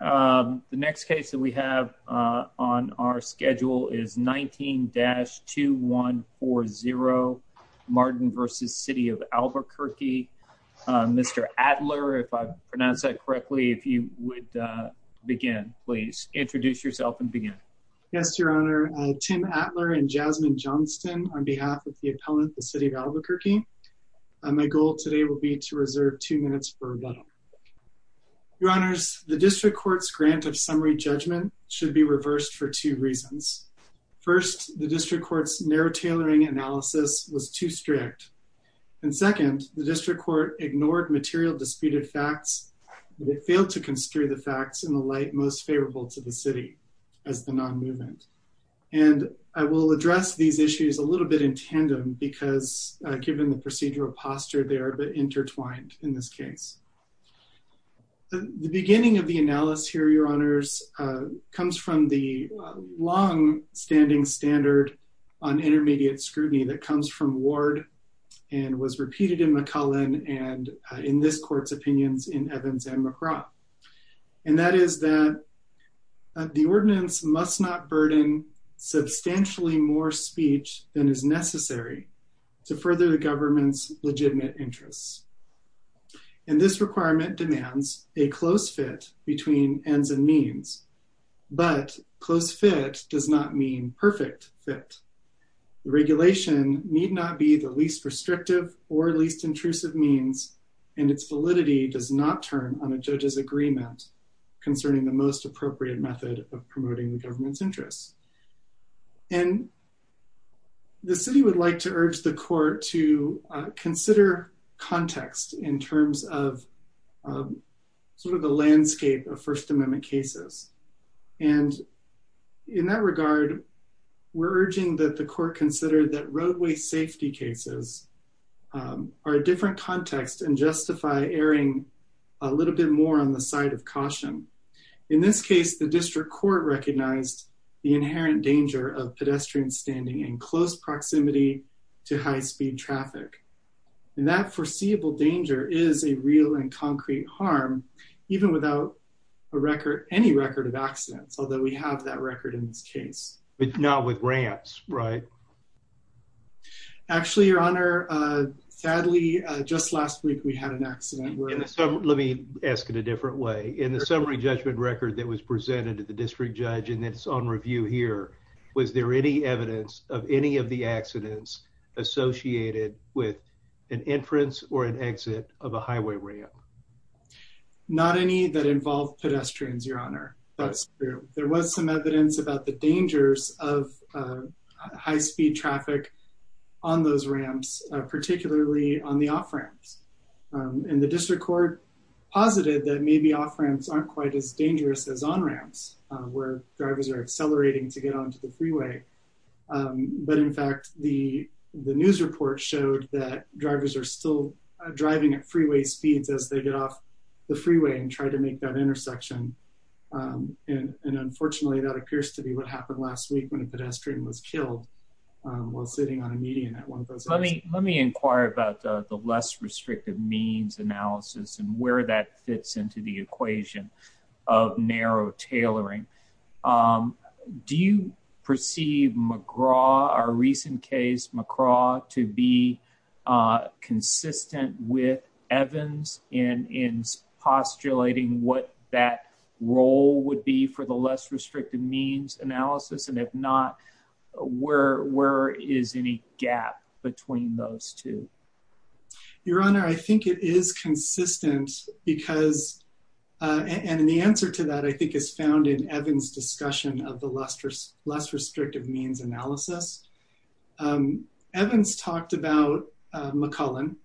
The next case that we have on our schedule is 19-2140 Martin v. City of Albuquerque. Mr. Adler, if I pronounce that correctly, if you would begin, please introduce yourself and begin. Yes, Your Honor. Tim Adler and Jasmine Johnston on behalf of the appellant, the City of Albuquerque. My goal today will be to address a number of issues. The District Court's grant of summary judgment should be reversed for two reasons. First, the District Court's narrow tailoring analysis was too strict. And second, the District Court ignored material disputed facts. They failed to construe the facts in the light most favorable to the city as the non-movement. And I will address these issues a little bit in a moment. The second reason I will address here, Your Honors, comes from the long-standing standard on intermediate scrutiny that comes from Ward and was repeated in McCullen and in this court's opinions in Evans and McGrath. And that is that the ordinance must not burden substantially more speech than is necessary to further the government's legitimate interests. And this requirement demands a close fit between ends and means. But close fit does not mean perfect fit. Regulation need not be the least restrictive or least intrusive means, and its validity does not turn on a judge's agreement concerning the most appropriate method of promoting the government's interests. And the city would like to urge the court to consider context in terms of sort of the landscape of First Amendment cases. And in that regard, we're urging that the court consider that roadway safety cases are a different context and justify erring a little bit more on the side of caution. In this case, the District Court recognized the inherent danger of pedestrians standing in close proximity to high-speed traffic. And that foreseeable danger is a real and concrete harm, even without a record, any record of accidents, although we have that record in this case. But not with ramps, right? Actually, Your Honor, sadly, just last week, we had an accident. Let me ask it a different way. In the summary judgment record that was presented to the district judge, and it's on review here, was there any evidence of any of the accidents associated with an entrance or an exit of a highway ramp? Not any that involved pedestrians, Your Honor. That's true. There was some evidence about the dangers of high-speed traffic on those ramps, particularly on the off-ramps. And the district court posited that maybe off-ramps aren't quite as dangerous as on-ramps, where drivers are accelerating to get onto the freeway. But in fact, the news report showed that drivers are still driving at freeway speeds as they get off the freeway and try to make that intersection. And unfortunately, that appears to be what happened last week when a pedestrian was killed while sitting on a median at one of those ramps. Let me inquire about the less restrictive means analysis and where that fits into the equation of narrow tailoring. Do you perceive McGraw, our recent case, McGraw, to be consistent with Evans in postulating what that role would be for the less restrictive means analysis? And if not, where is any gap between those two? Your Honor, I think it is consistent because, and the answer to that, I think, is found in Evans' discussion of the less restrictive means analysis. Evans talked about McCullen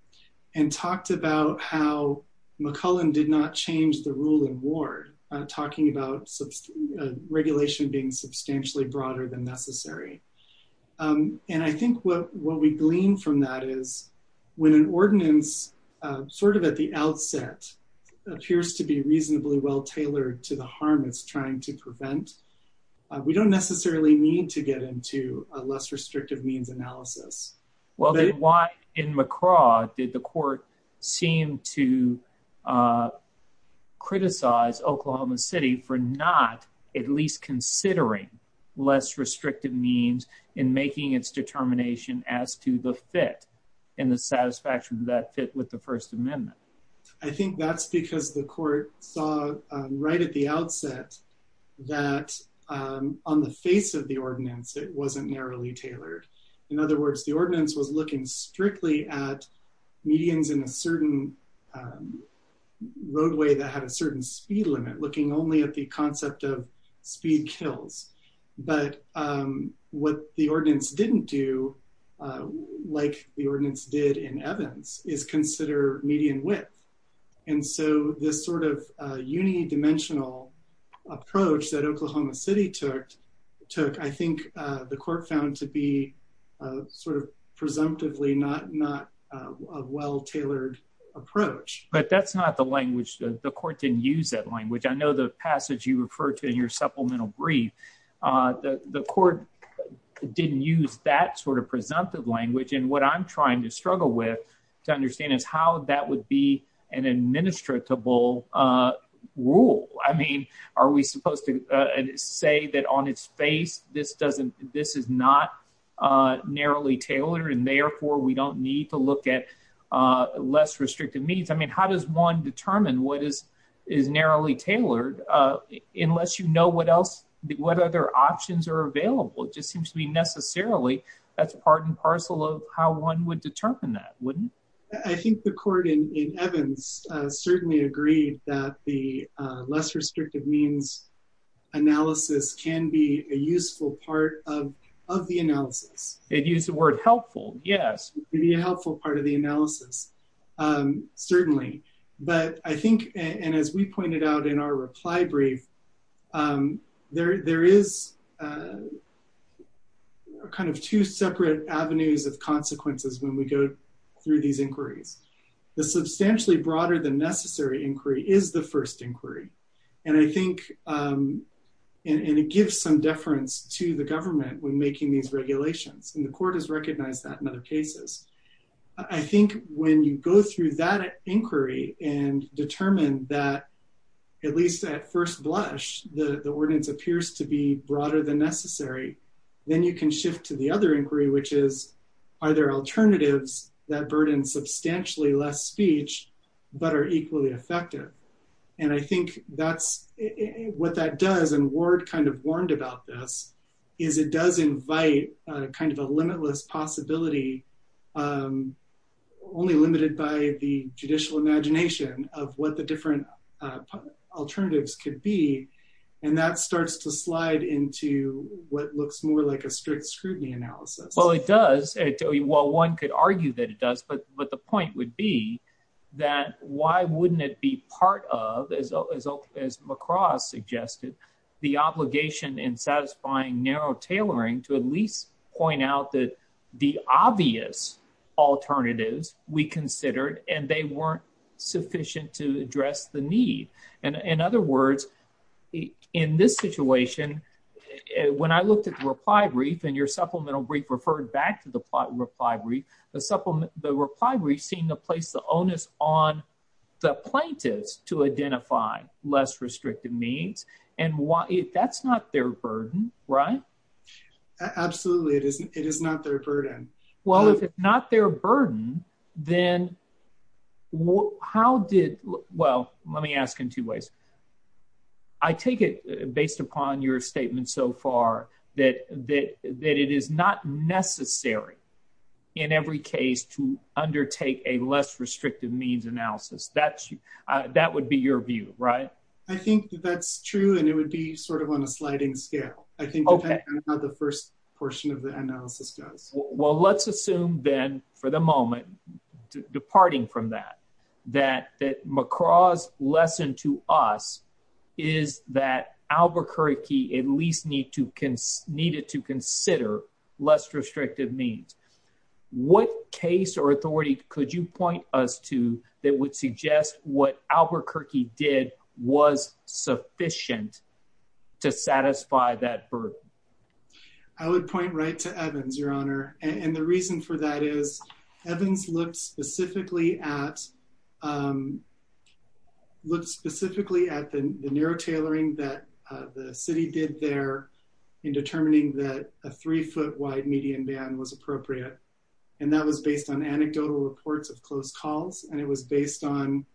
and talked about how McCullen did not change the rule in Ward, talking about regulation being substantially broader than necessary. And I think what we glean from that is when an ordinance, sort of at the outset, appears to be reasonably well tailored to the harm it's trying to prevent, we don't necessarily need to get into a less restrictive means analysis. Well, then why in McGraw did the court seem to criticize Oklahoma City for not at least considering less restrictive means in making its determination as to the fit and the satisfaction of that fit with the First Amendment? I think that's because the court saw right at the outset that on the face of the ordinance, it wasn't narrowly narrowed. The ordinance was looking strictly at medians in a certain roadway that had a certain speed limit, looking only at the concept of speed kills. But what the ordinance didn't do, like the ordinance did in Evans, is consider median width. And so this sort of unidimensional approach that Oklahoma City took, took, I presumptively not a well tailored approach. But that's not the language. The court didn't use that language. I know the passage you refer to in your supplemental brief, the court didn't use that sort of presumptive language. And what I'm trying to struggle with, to understand is how that would be an administratable rule. I mean, are we supposed to say that on its face, this doesn't, this is not narrowly tailored, and therefore, we don't need to look at less restrictive means? I mean, how does one determine what is narrowly tailored, unless you know what other options are available? It just seems to be necessarily, that's part and parcel of how one would determine that, wouldn't it? I think the court in Evans certainly agreed that the less restrictive means analysis can be a useful part of the analysis. It used the word helpful. Yes. It can be a helpful part of the analysis. Certainly. But I think, and as we pointed out in our reply brief, there is kind of two separate avenues of consequences when we go through these inquiries. The substantially broader than these regulations, and the court has recognized that in other cases. I think when you go through that inquiry and determine that, at least at first blush, the ordinance appears to be broader than necessary, then you can shift to the other inquiry, which is, are there alternatives that burden substantially less speech, but are equally effective? And I think that's what that does. And Ward kind of warned about this, is it does invite kind of a limitless possibility, only limited by the judicial imagination of what the different alternatives could be. And that starts to slide into what looks more like a strict scrutiny analysis. Well, it does. Well, one could argue that it does. But but the point would be that, why wouldn't it be part of as, as, as lacrosse suggested, the obligation in satisfying narrow tailoring to at least point out that the obvious alternatives we considered and they weren't sufficient to address the need. And in other words, in this situation, when I looked at the reply brief, and your supplemental brief referred back to the reply brief, the supplement, the reply brief seemed to place the onus on the plaintiffs to identify less restrictive means. And why if that's not their burden, right? Absolutely, it isn't. It is not their burden. Well, if it's not their burden, then what how did? Well, let me ask in two ways. I take it based upon your statement so far, that that that it is not necessary, in every case to undertake a less restrictive means analysis. That's, that would be your view, right? I think that's true. And it would be sort of on a sliding scale. I think the first portion of the analysis does. Well, let's assume then for the moment, departing from that, that that lacrosse lesson to us is that Albuquerque at least need to needed to consider less restrictive means. What case or authority could you point us to that would suggest what Albuquerque did was sufficient to satisfy that burden? I would point right to Evans, Your Honor. And the reason for that is Evans looked specifically at looked specifically at the narrow tailoring that the city did there in determining that a three foot wide median ban was appropriate. And that was based on anecdotal reports of close calls. And it was based on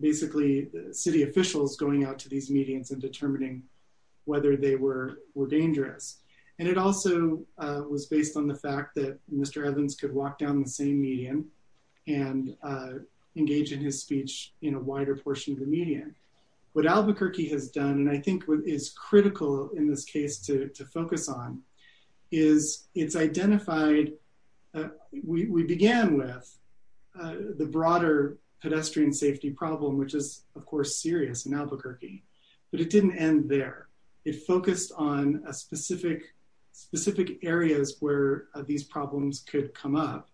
basically city officials going out to these medians and determining whether they were were dangerous. And it also was based on the fact that Mr. Evans could walk down the same median and engage in his speech in a wider portion of the median. What Albuquerque has done, and I think what is critical in this case to focus on, is it's identified we began with the broader pedestrian safety problem, which is, of course, serious in Albuquerque, but it didn't end there. It focused on a specific, specific areas where these problems could come up.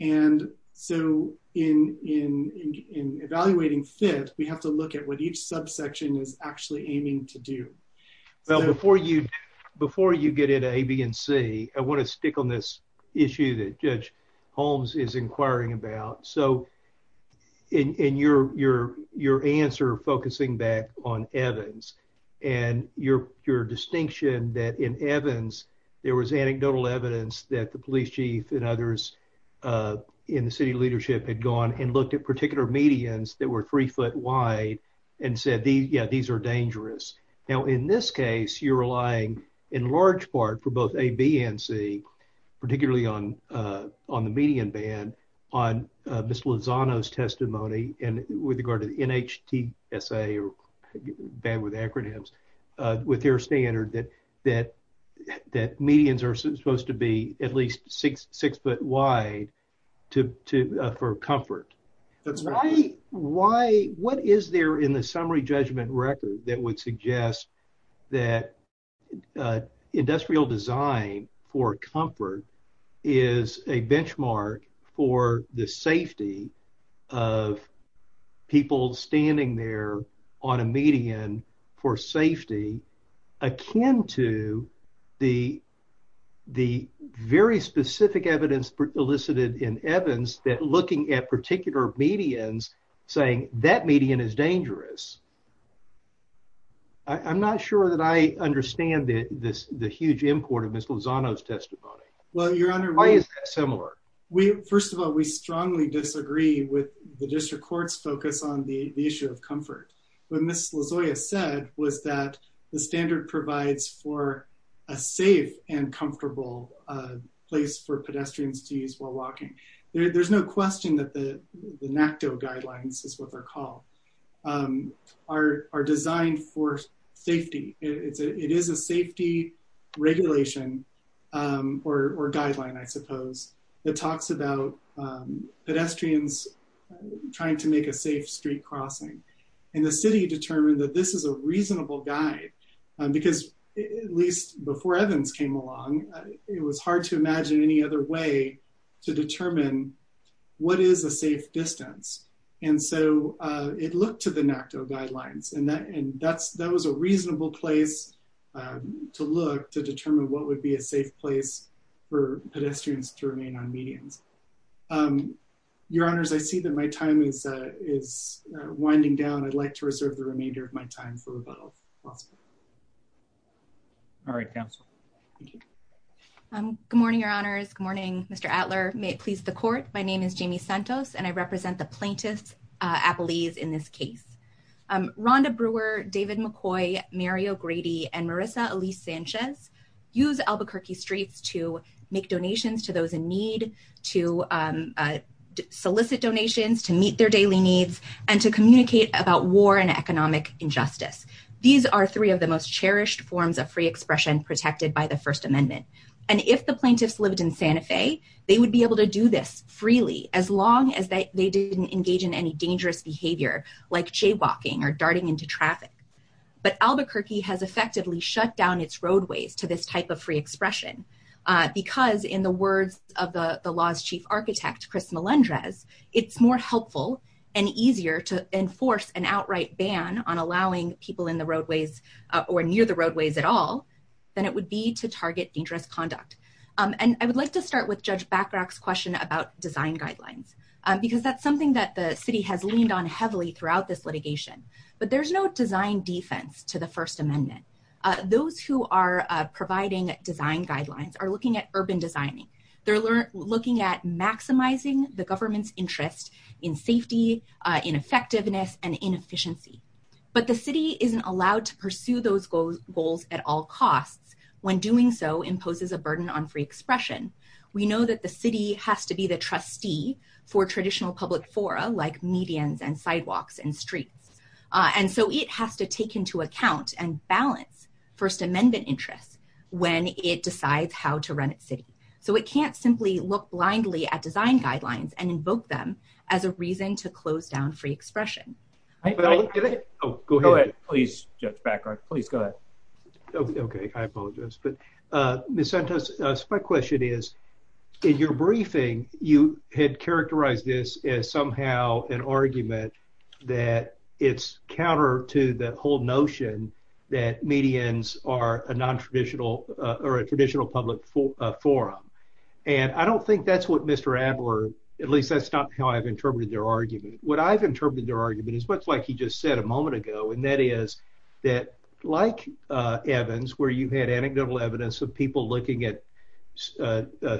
And so in evaluating FIT, we have to look at what each subsection is actually aiming to do. Well, before you before you get into A, B, and C, I want to stick on this issue that Judge Holmes is inquiring about. So in your answer focusing back on Evans and your distinction that in Evans, there was anecdotal evidence that the police chief and others in the city leadership had gone and looked at particular medians that were three foot wide and said, yeah, these are dangerous. Now, in this case, you're relying in large part for both A, B, and C, for comfort. What is there in the summary judgment record that would suggest that industrial design for comfort is a benchmark for the safety of people standing there on a median for safety akin to the very specific evidence elicited in Evans that looking at particular medians saying that median is dangerous? I'm not sure that I understand this, the huge import of Ms. Lozano's testimony. Well, Your Honor, Why is that similar? We, first of all, we strongly disagree with the district court's focus on the issue of comfort. What Ms. Lozano said was that the standard provides for a safe and comfortable place for pedestrians to use while walking. There's no question that the NACTO guidelines is what they're called are designed for safety. It is a safety regulation or guideline, I suppose, that talks about pedestrians trying to make a safe street crossing. And the city determined that this is a reasonable guide because, at least before Evans came along, it was hard to imagine any other way to determine what is a safe distance. And so it looked to the NACTO guidelines and that was a reasonable place to look to determine what would be a safe place for pedestrians to remain on medians. Your Honors, I see that my time is winding down. I'd like to reserve the remainder of my time for rebuttal. All right, counsel. Good morning, Your Honors. Good morning, Mr. Attler. May it please the court, my name is Jamie Santos and I represent the plaintiff's appellees in this case. Rhonda Brewer, David McCoy, Mario Grady, and Marissa Elise Sanchez use Albuquerque streets to make donations to those in need, to solicit donations, to meet their daily needs, and to communicate about war and economic injustice. These are three of the most cherished forms of free expression protected by the First Amendment. And if the plaintiffs lived in Santa Fe, they would be able to do this freely as long as they didn't engage in any dangerous behavior like jaywalking or darting into traffic. But Albuquerque has effectively shut down its roadways to this type of free expression because, in the words of the the law's chief architect, Chris Melendrez, it's more helpful and easier to enforce an outright ban on allowing people in the roadways or near the roadways at all than it would be to target dangerous conduct. And I would like to start with Judge Bachrach's question about design guidelines because that's something that the city has leaned on heavily throughout this litigation. But there's no design defense to the First Amendment. Those who are providing design guidelines are looking at urban designing. They're looking at maximizing the government's interest in safety, in effectiveness, and in efficiency. But the city isn't allowed to pursue those goals at all costs when doing so imposes a burden on free expression. We know that the city has to be the trustee for traditional public fora like medians and sidewalks and streets. And so it has to take into account and balance First Amendment interests when it decides how to run its city. So it can't simply look blindly at design guidelines and invoke them as a reason to close down free expression. Go ahead, please, Judge Bachrach. Please go ahead. Okay, I apologize. But Ms. Santos, my question is, in your briefing, you had characterized this as somehow an argument that it's counter to the whole notion that medians are a non-traditional or a traditional public forum. And I don't think that's what Mr. Adler, at least that's not how I've interpreted their argument. What I've interpreted their argument is much like he just said a moment ago. And that is that like Evans, where you had anecdotal evidence of people looking at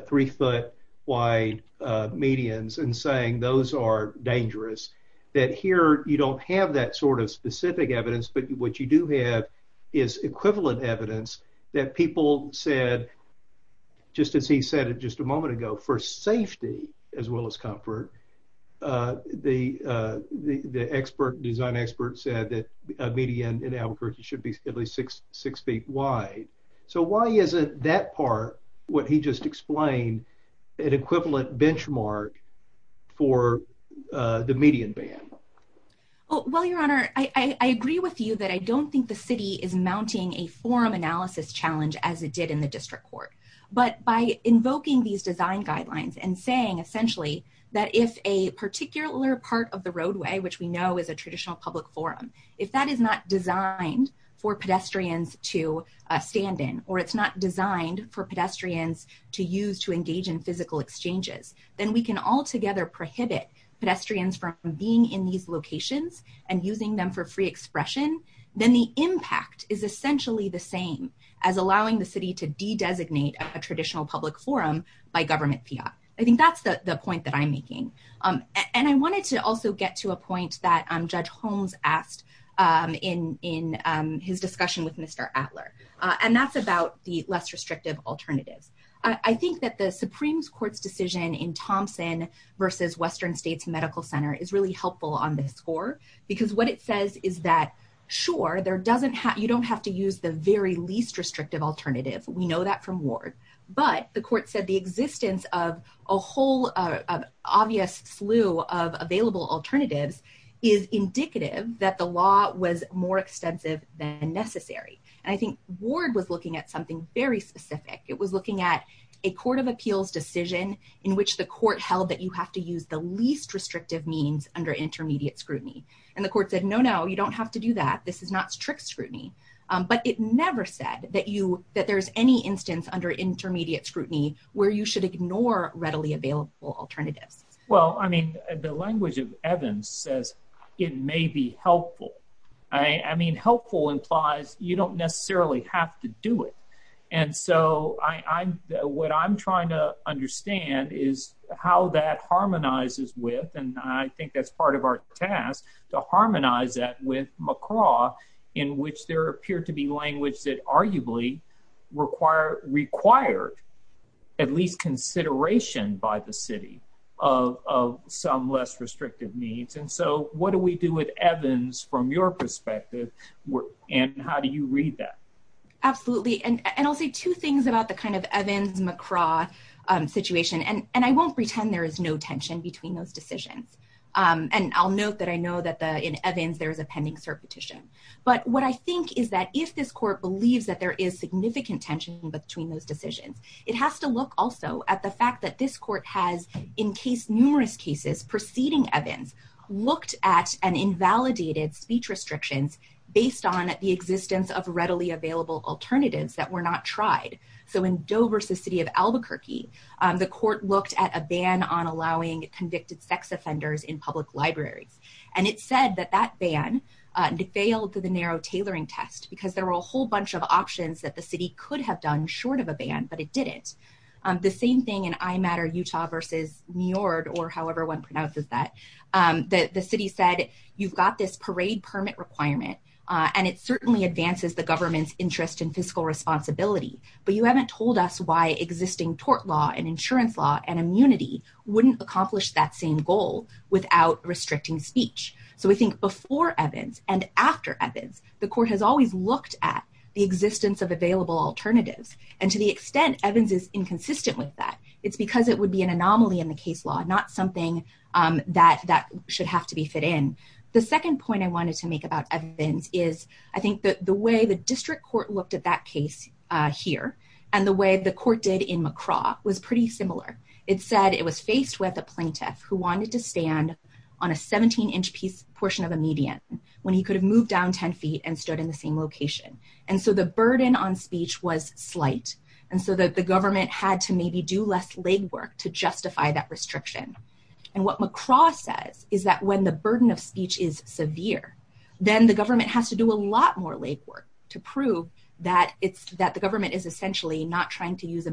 three foot wide medians and saying those are dangerous, that here you don't have that sort of specific evidence. But what you do have is equivalent evidence that people said, just as he said it just a moment ago, for safety as well as comfort. The expert, design expert said that a median in Albuquerque should be at least six feet wide. So why isn't that part what he just explained an equivalent benchmark for the median band? Well, your honor, I agree with you that I don't think the city is mounting a forum analysis challenge as it did in the district court. But by invoking these design guidelines and saying essentially that if a particular part of the roadway, which we know is a traditional public forum, if that is not designed for pedestrians to stand in, or it's not designed for pedestrians to use to engage in physical exchanges, then we can all together prohibit pedestrians from being in these locations and using them for free a traditional public forum by government PR. I think that's the point that I'm making. And I wanted to also get to a point that Judge Holmes asked in his discussion with Mr. Adler. And that's about the less restrictive alternatives. I think that the Supreme Court's decision in Thompson versus Western States Medical Center is really helpful on this score, because what it says is that, sure, there doesn't have, you don't have to use the very least restrictive alternative. We know that from Ward, but the court said the existence of a whole obvious slew of available alternatives is indicative that the law was more extensive than necessary. And I think Ward was looking at something very specific. It was looking at a court of appeals decision in which the court held that you have to use the least restrictive means under intermediate scrutiny. And the court said, no, no, you don't have to do that. This is not strict scrutiny. But it never said that you, that there's any instance under intermediate scrutiny where you should ignore readily available alternatives. Well, I mean, the language of Evans says, it may be helpful. I mean, helpful implies you don't necessarily have to do it. And so I, what I'm trying to understand is how that harmonizes with, and I think that's part of our task to harmonize that with McCraw, in which there appeared to be language that arguably required at least consideration by the city of some less restrictive needs. And so what do we do with Evans from your perspective? And how do you read that? Absolutely. And I'll say two things about the kind of Evans-McCraw situation. And I won't pretend there is no tension between those decisions. And I'll note that I know that in Evans, there is a pending cert petition. But what I think is that if this court believes that there is significant tension between those decisions, it has to look also at the fact that this court has, in case numerous cases preceding Evans, looked at an invalidated speech restrictions based on the existence of readily available alternatives that were not tried. So in Doe versus city of Albuquerque, the court looked at a ban on allowing convicted sex offenders in public libraries. And it said that that ban failed to the narrow tailoring test, because there were a whole bunch of options that the city could have done short of a ban, but it didn't. The same thing in IMatter Utah versus New York, or however one pronounces that, the city said, you've got this parade permit requirement, and it certainly advances the government's interest in fiscal responsibility. But you haven't told us why existing tort law and that same goal without restricting speech. So we think before Evans and after Evans, the court has always looked at the existence of available alternatives. And to the extent Evans is inconsistent with that, it's because it would be an anomaly in the case law, not something that should have to be fit in. The second point I wanted to make about Evans is, I think that the way the district court looked at that case here, and the way the court did in McCraw was pretty similar. It said it was faced with a plaintiff who wanted to stand on a 17 inch piece portion of a median, when he could have moved down 10 feet and stood in the same location. And so the burden on speech was slight. And so that the government had to maybe do less legwork to justify that restriction. And what McCraw says is that when the burden of speech is severe, then the government has to do a lot more legwork to prove that it's that the government is essentially not trying to use a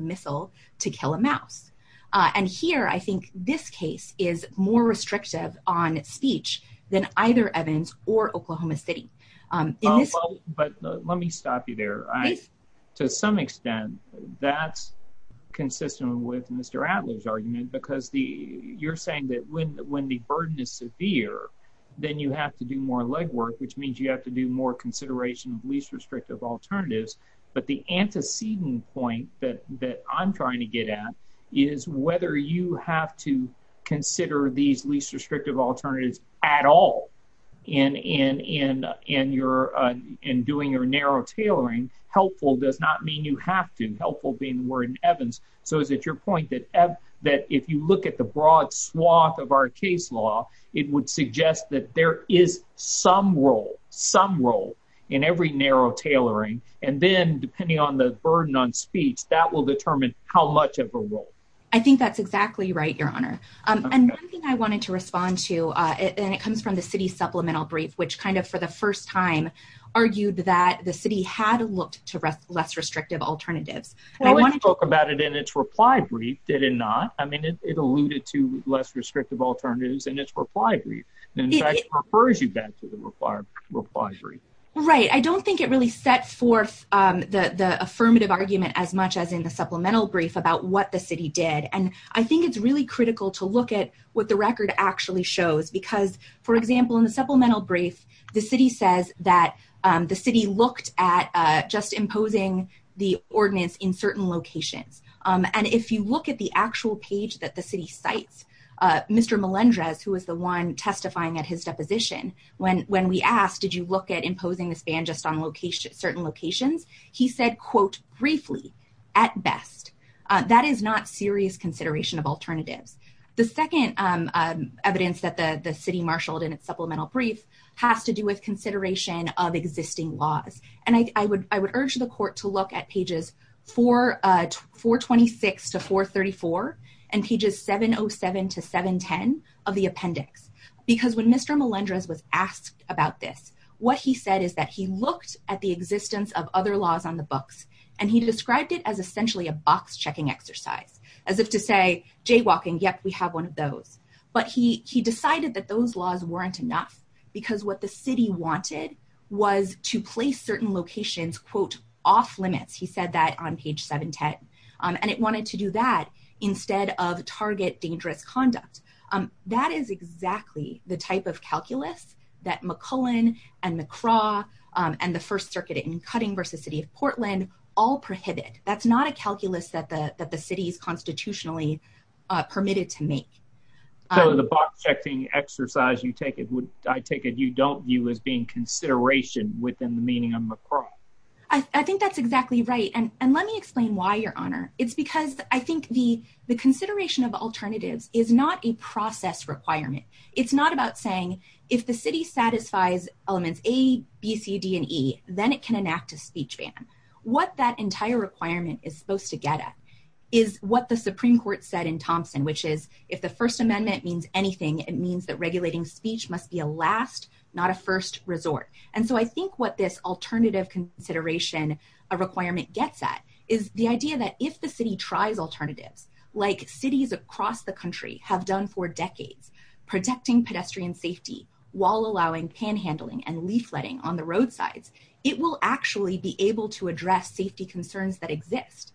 And here, I think this case is more restrictive on speech than either Evans or Oklahoma City. But let me stop you there. To some extent, that's consistent with Mr. Adler's argument, because the you're saying that when when the burden is severe, then you have to do more legwork, which means you have to do more consideration of least restrictive alternatives. But the antecedent point that that I'm trying to get at is whether you have to consider these least restrictive alternatives at all. In doing your narrow tailoring, helpful does not mean you have to. Helpful being the word in Evans. So is it your point that if you look at the broad swath of our case law, it would suggest that there is some role, some role in every narrow tailoring and then depending on the burden on speech that will determine how much of a role. I think that's exactly right, Your Honor. And I think I wanted to respond to it. And it comes from the city supplemental brief, which kind of for the first time argued that the city had looked to rest less restrictive alternatives. I want to talk about it in its reply brief. Did it not? I mean, it alluded to less restrictive alternatives and its reply brief refers you back to the reply brief. Right. I don't think it really sets forth the affirmative argument as much as in the supplemental brief about what the city did. And I think it's really critical to look at what the record actually shows, because, for example, in the supplemental brief, the city says that the city looked at just imposing the ordinance in certain locations. And if you look at the when we asked, did you look at imposing this ban just on certain locations? He said, quote, briefly, at best, that is not serious consideration of alternatives. The second evidence that the city marshaled in its supplemental brief has to do with consideration of existing laws. And I would urge the court to look at pages 426 to 434 and pages 707 to 710 of the appendix, because when Mr. Melendrez was asked about this, what he said is that he looked at the existence of other laws on the books and he described it as essentially a box checking exercise, as if to say jaywalking. Yep, we have one of those. But he he decided that those laws weren't enough because what the city wanted was to place certain locations, quote, off limits. He said that on page 710, and it wanted to do that instead of target dangerous conduct. That is exactly the type of calculus that McClellan and McCraw and the First Circuit in Cutting versus City of Portland all prohibit. That's not a calculus that the that the city's constitutionally permitted to make. So the box checking exercise, you take it, I take it you don't view as being consideration within the meaning of McCraw. I think that's exactly right. And and let me explain why, Your Honor, it's because I think the the consideration of alternatives is not a process requirement. It's not about saying, if the city satisfies elements A, B, C, D, and E, then it can enact a speech ban. What that entire requirement is supposed to get at is what the Supreme Court said in Thompson, which is, if the First Amendment means anything, it means that regulating speech must be a last, not a first resort. And so I think what this alternative consideration, a requirement gets at, is the idea that if the city tries alternatives, like cities across the country have done for decades, protecting pedestrian safety while allowing panhandling and leafletting on the roadsides, it will actually be able to address safety concerns that exist.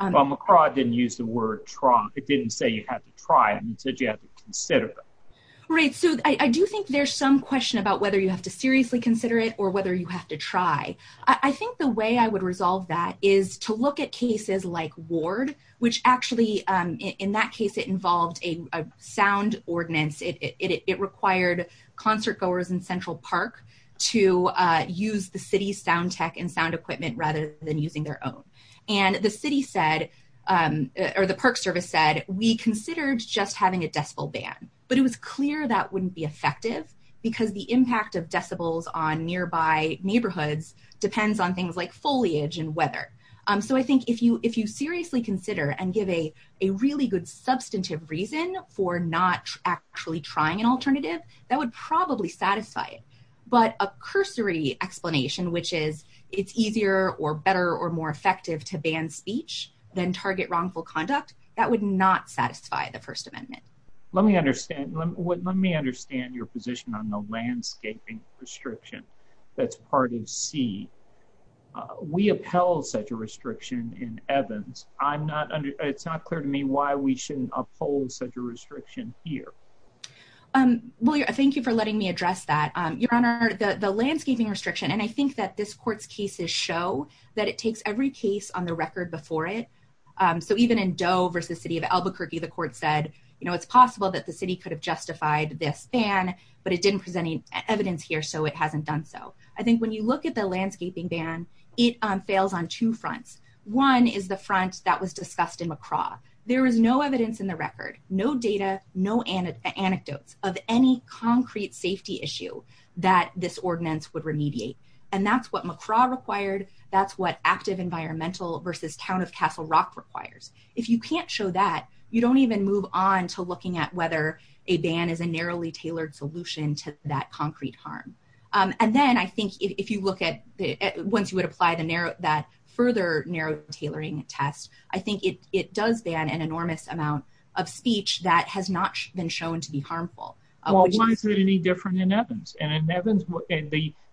Well, McCraw didn't use the word try. It didn't say you have to try. It said you have to consider them. Right. So I do think there's some question about whether you have to seriously consider it or whether you have to try. I think the way I would resolve that is to look at cases like Ward, which actually in that case, it involved a sound ordinance. It required concert goers in Central Park to use the city's sound tech and sound equipment rather than using their own. And the city said, or the Park Service said, we considered just having a decibel ban, but it was clear that wouldn't be effective because the impact of decibels on nearby neighborhoods depends on things like foliage and weather. So I think if you seriously consider and give a really good substantive reason for not actually trying an alternative, that would probably satisfy it. But a cursory explanation, which is it's easier or better or more effective to ban speech than target wrongful conduct. That would not satisfy the First Amendment. Let me understand. Let me understand your position on the landscaping restriction. That's part of C. We upheld such a restriction in Evans. I'm not. It's not clear to me why we shouldn't uphold such a restriction here. Well, thank you for letting me address that. Your Honor, the landscaping restriction. And I think that this court's cases show that it takes every case on the record before it. So even in Doe versus city of Albuquerque, the court said, you know, it's possible that the city could have justified this ban, but it didn't present any evidence here. So it hasn't done so. I think when you look at the landscaping ban, it fails on two fronts. One is the front that was discussed in McCraw. There is no evidence in the record, no data, no anecdotes of any concrete safety issue that this active environmental versus town of Castle Rock requires. If you can't show that, you don't even move on to looking at whether a ban is a narrowly tailored solution to that concrete harm. And then I think if you look at once you would apply the narrow that further narrow tailoring test, I think it does ban an enormous amount of speech that has not been shown to be harmful. Well, why is it any different in Evans? And in Evans,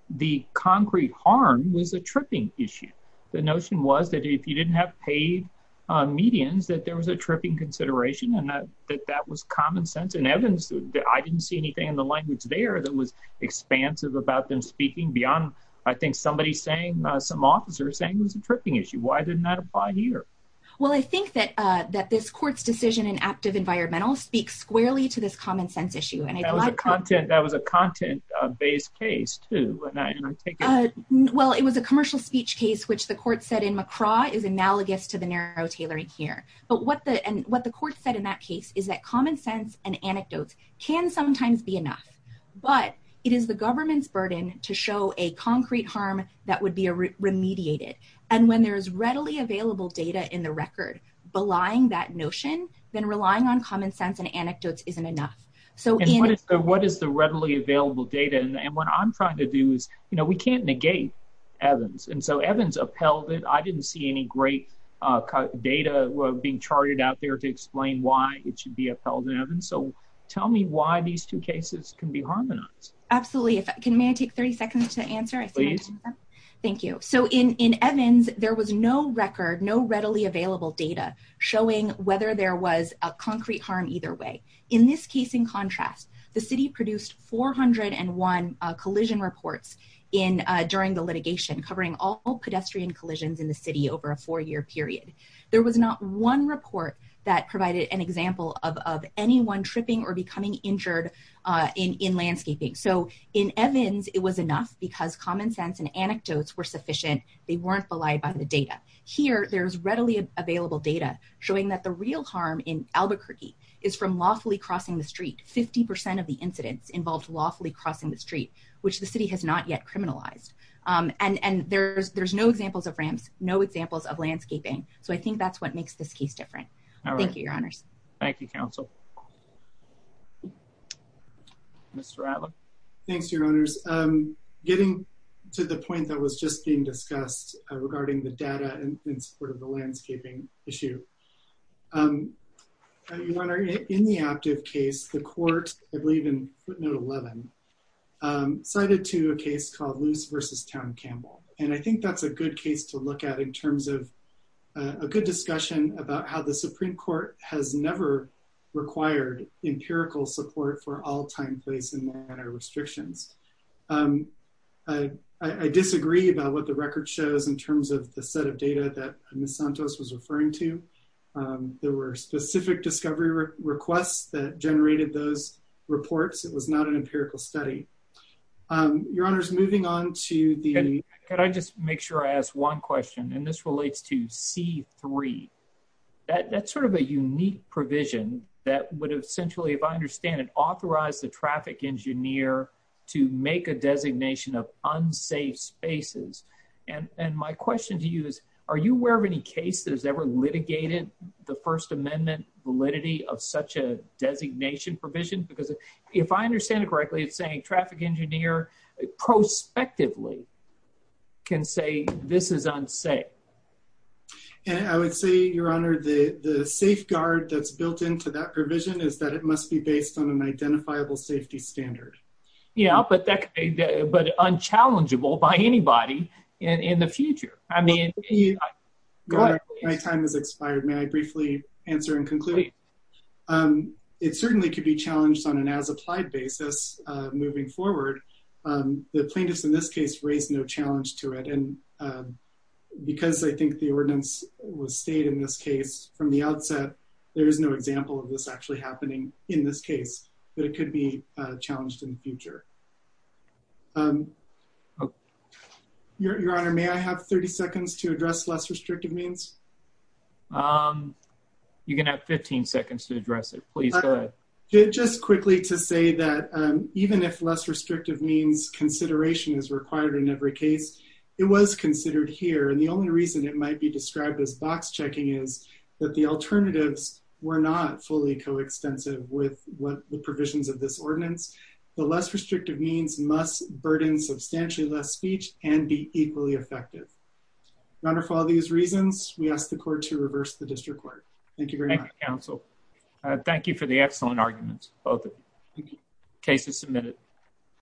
the concrete harm was a tripping issue. The notion was that if you didn't have paid medians, that there was a tripping consideration and that that was common sense in Evans. I didn't see anything in the language there that was expansive about them speaking beyond, I think somebody saying, some officers saying it was a tripping issue. Why didn't that apply here? Well, I think that that this court's decision in active environmental speaks squarely to this common sense issue. And I like content. That was a content based case too. Well, it was a commercial speech case, which the court said in McCraw is analogous to the narrow tailoring here. But what the, and what the court said in that case is that common sense and anecdotes can sometimes be enough, but it is the government's burden to show a concrete harm that would be remediated. And when there is readily available data in the record, belying that notion, then relying on common sense and anecdotes isn't enough. So what is the readily available data? And what I'm trying to do is, you know, we can't negate Evans. And so Evans upheld it. I didn't see any great data being charted out there to explain why it should be upheld in Evans. So tell me why these two cases can be harmonized. Absolutely. If I can, may I take 30 seconds to answer? Thank you. So in Evans, there was no record, no readily available data showing whether there was a concrete harm either way. In this case, in contrast, the city produced 401 collision reports in during the litigation covering all pedestrian collisions in the city over a four year period. There was not one report that provided an example of anyone tripping or becoming injured in landscaping. So in Evans, it was enough because common sense and anecdotes were sufficient. They weren't belied by the data here. There's readily available data showing that the real harm in Albuquerque is from lawfully crossing the street. 50% of the incidents involved lawfully crossing the street, which the city has not yet criminalized. And there's no examples of ramps, no examples of landscaping. So I think that's what makes this case different. Thank you, your honors. Thank you, counsel. Mr. Allen. Thanks, your honors. Getting to the point that was just being discussed regarding the data and in support of the landscaping issue. Your honor, in the active case, the court, I believe in footnote 11, cited to a case called Luce versus Towne Campbell. And I think that's a good case to look at in terms of a good discussion about how the Supreme Court has never required a empirical support for all time, place, and manner restrictions. I disagree about what the record shows in terms of the set of data that Ms. Santos was referring to. There were specific discovery requests that generated those reports. It was not an empirical study. Your honors, moving on to the... Can I just make sure I ask one question? And this relates to C-3. That's sort of a unique provision that would essentially, if I understand it, authorize the traffic engineer to make a designation of unsafe spaces. And my question to you is, are you aware of any case that has ever litigated the First Amendment validity of such a designation provision? Because if I understand it correctly, it's saying traffic engineer prospectively can say, this is unsafe. And I would say, your honor, the safeguard that's built into that provision is that it must be based on an identifiable safety standard. Yeah, but unchallengeable by anybody in the future. I mean... My time has expired. May I briefly answer and conclude? It certainly could be challenged on an as-applied basis moving forward. The plaintiffs in this case raised no challenge to it. And because I think the ordinance was stayed in this case from the outset, there is no example of this actually happening in this case, but it could be challenged in the future. Your honor, may I have 30 seconds to address less restrictive means? You can have 15 seconds to address it. Please go ahead. Just quickly to say that even if less it was considered here, and the only reason it might be described as box checking is that the alternatives were not fully coextensive with what the provisions of this ordinance, the less restrictive means must burden substantially less speech and be equally effective. Your honor, for all these reasons, we ask the court to reverse the district court. Thank you very much. Thank you, counsel. Thank you for the excellent arguments. Both cases submitted.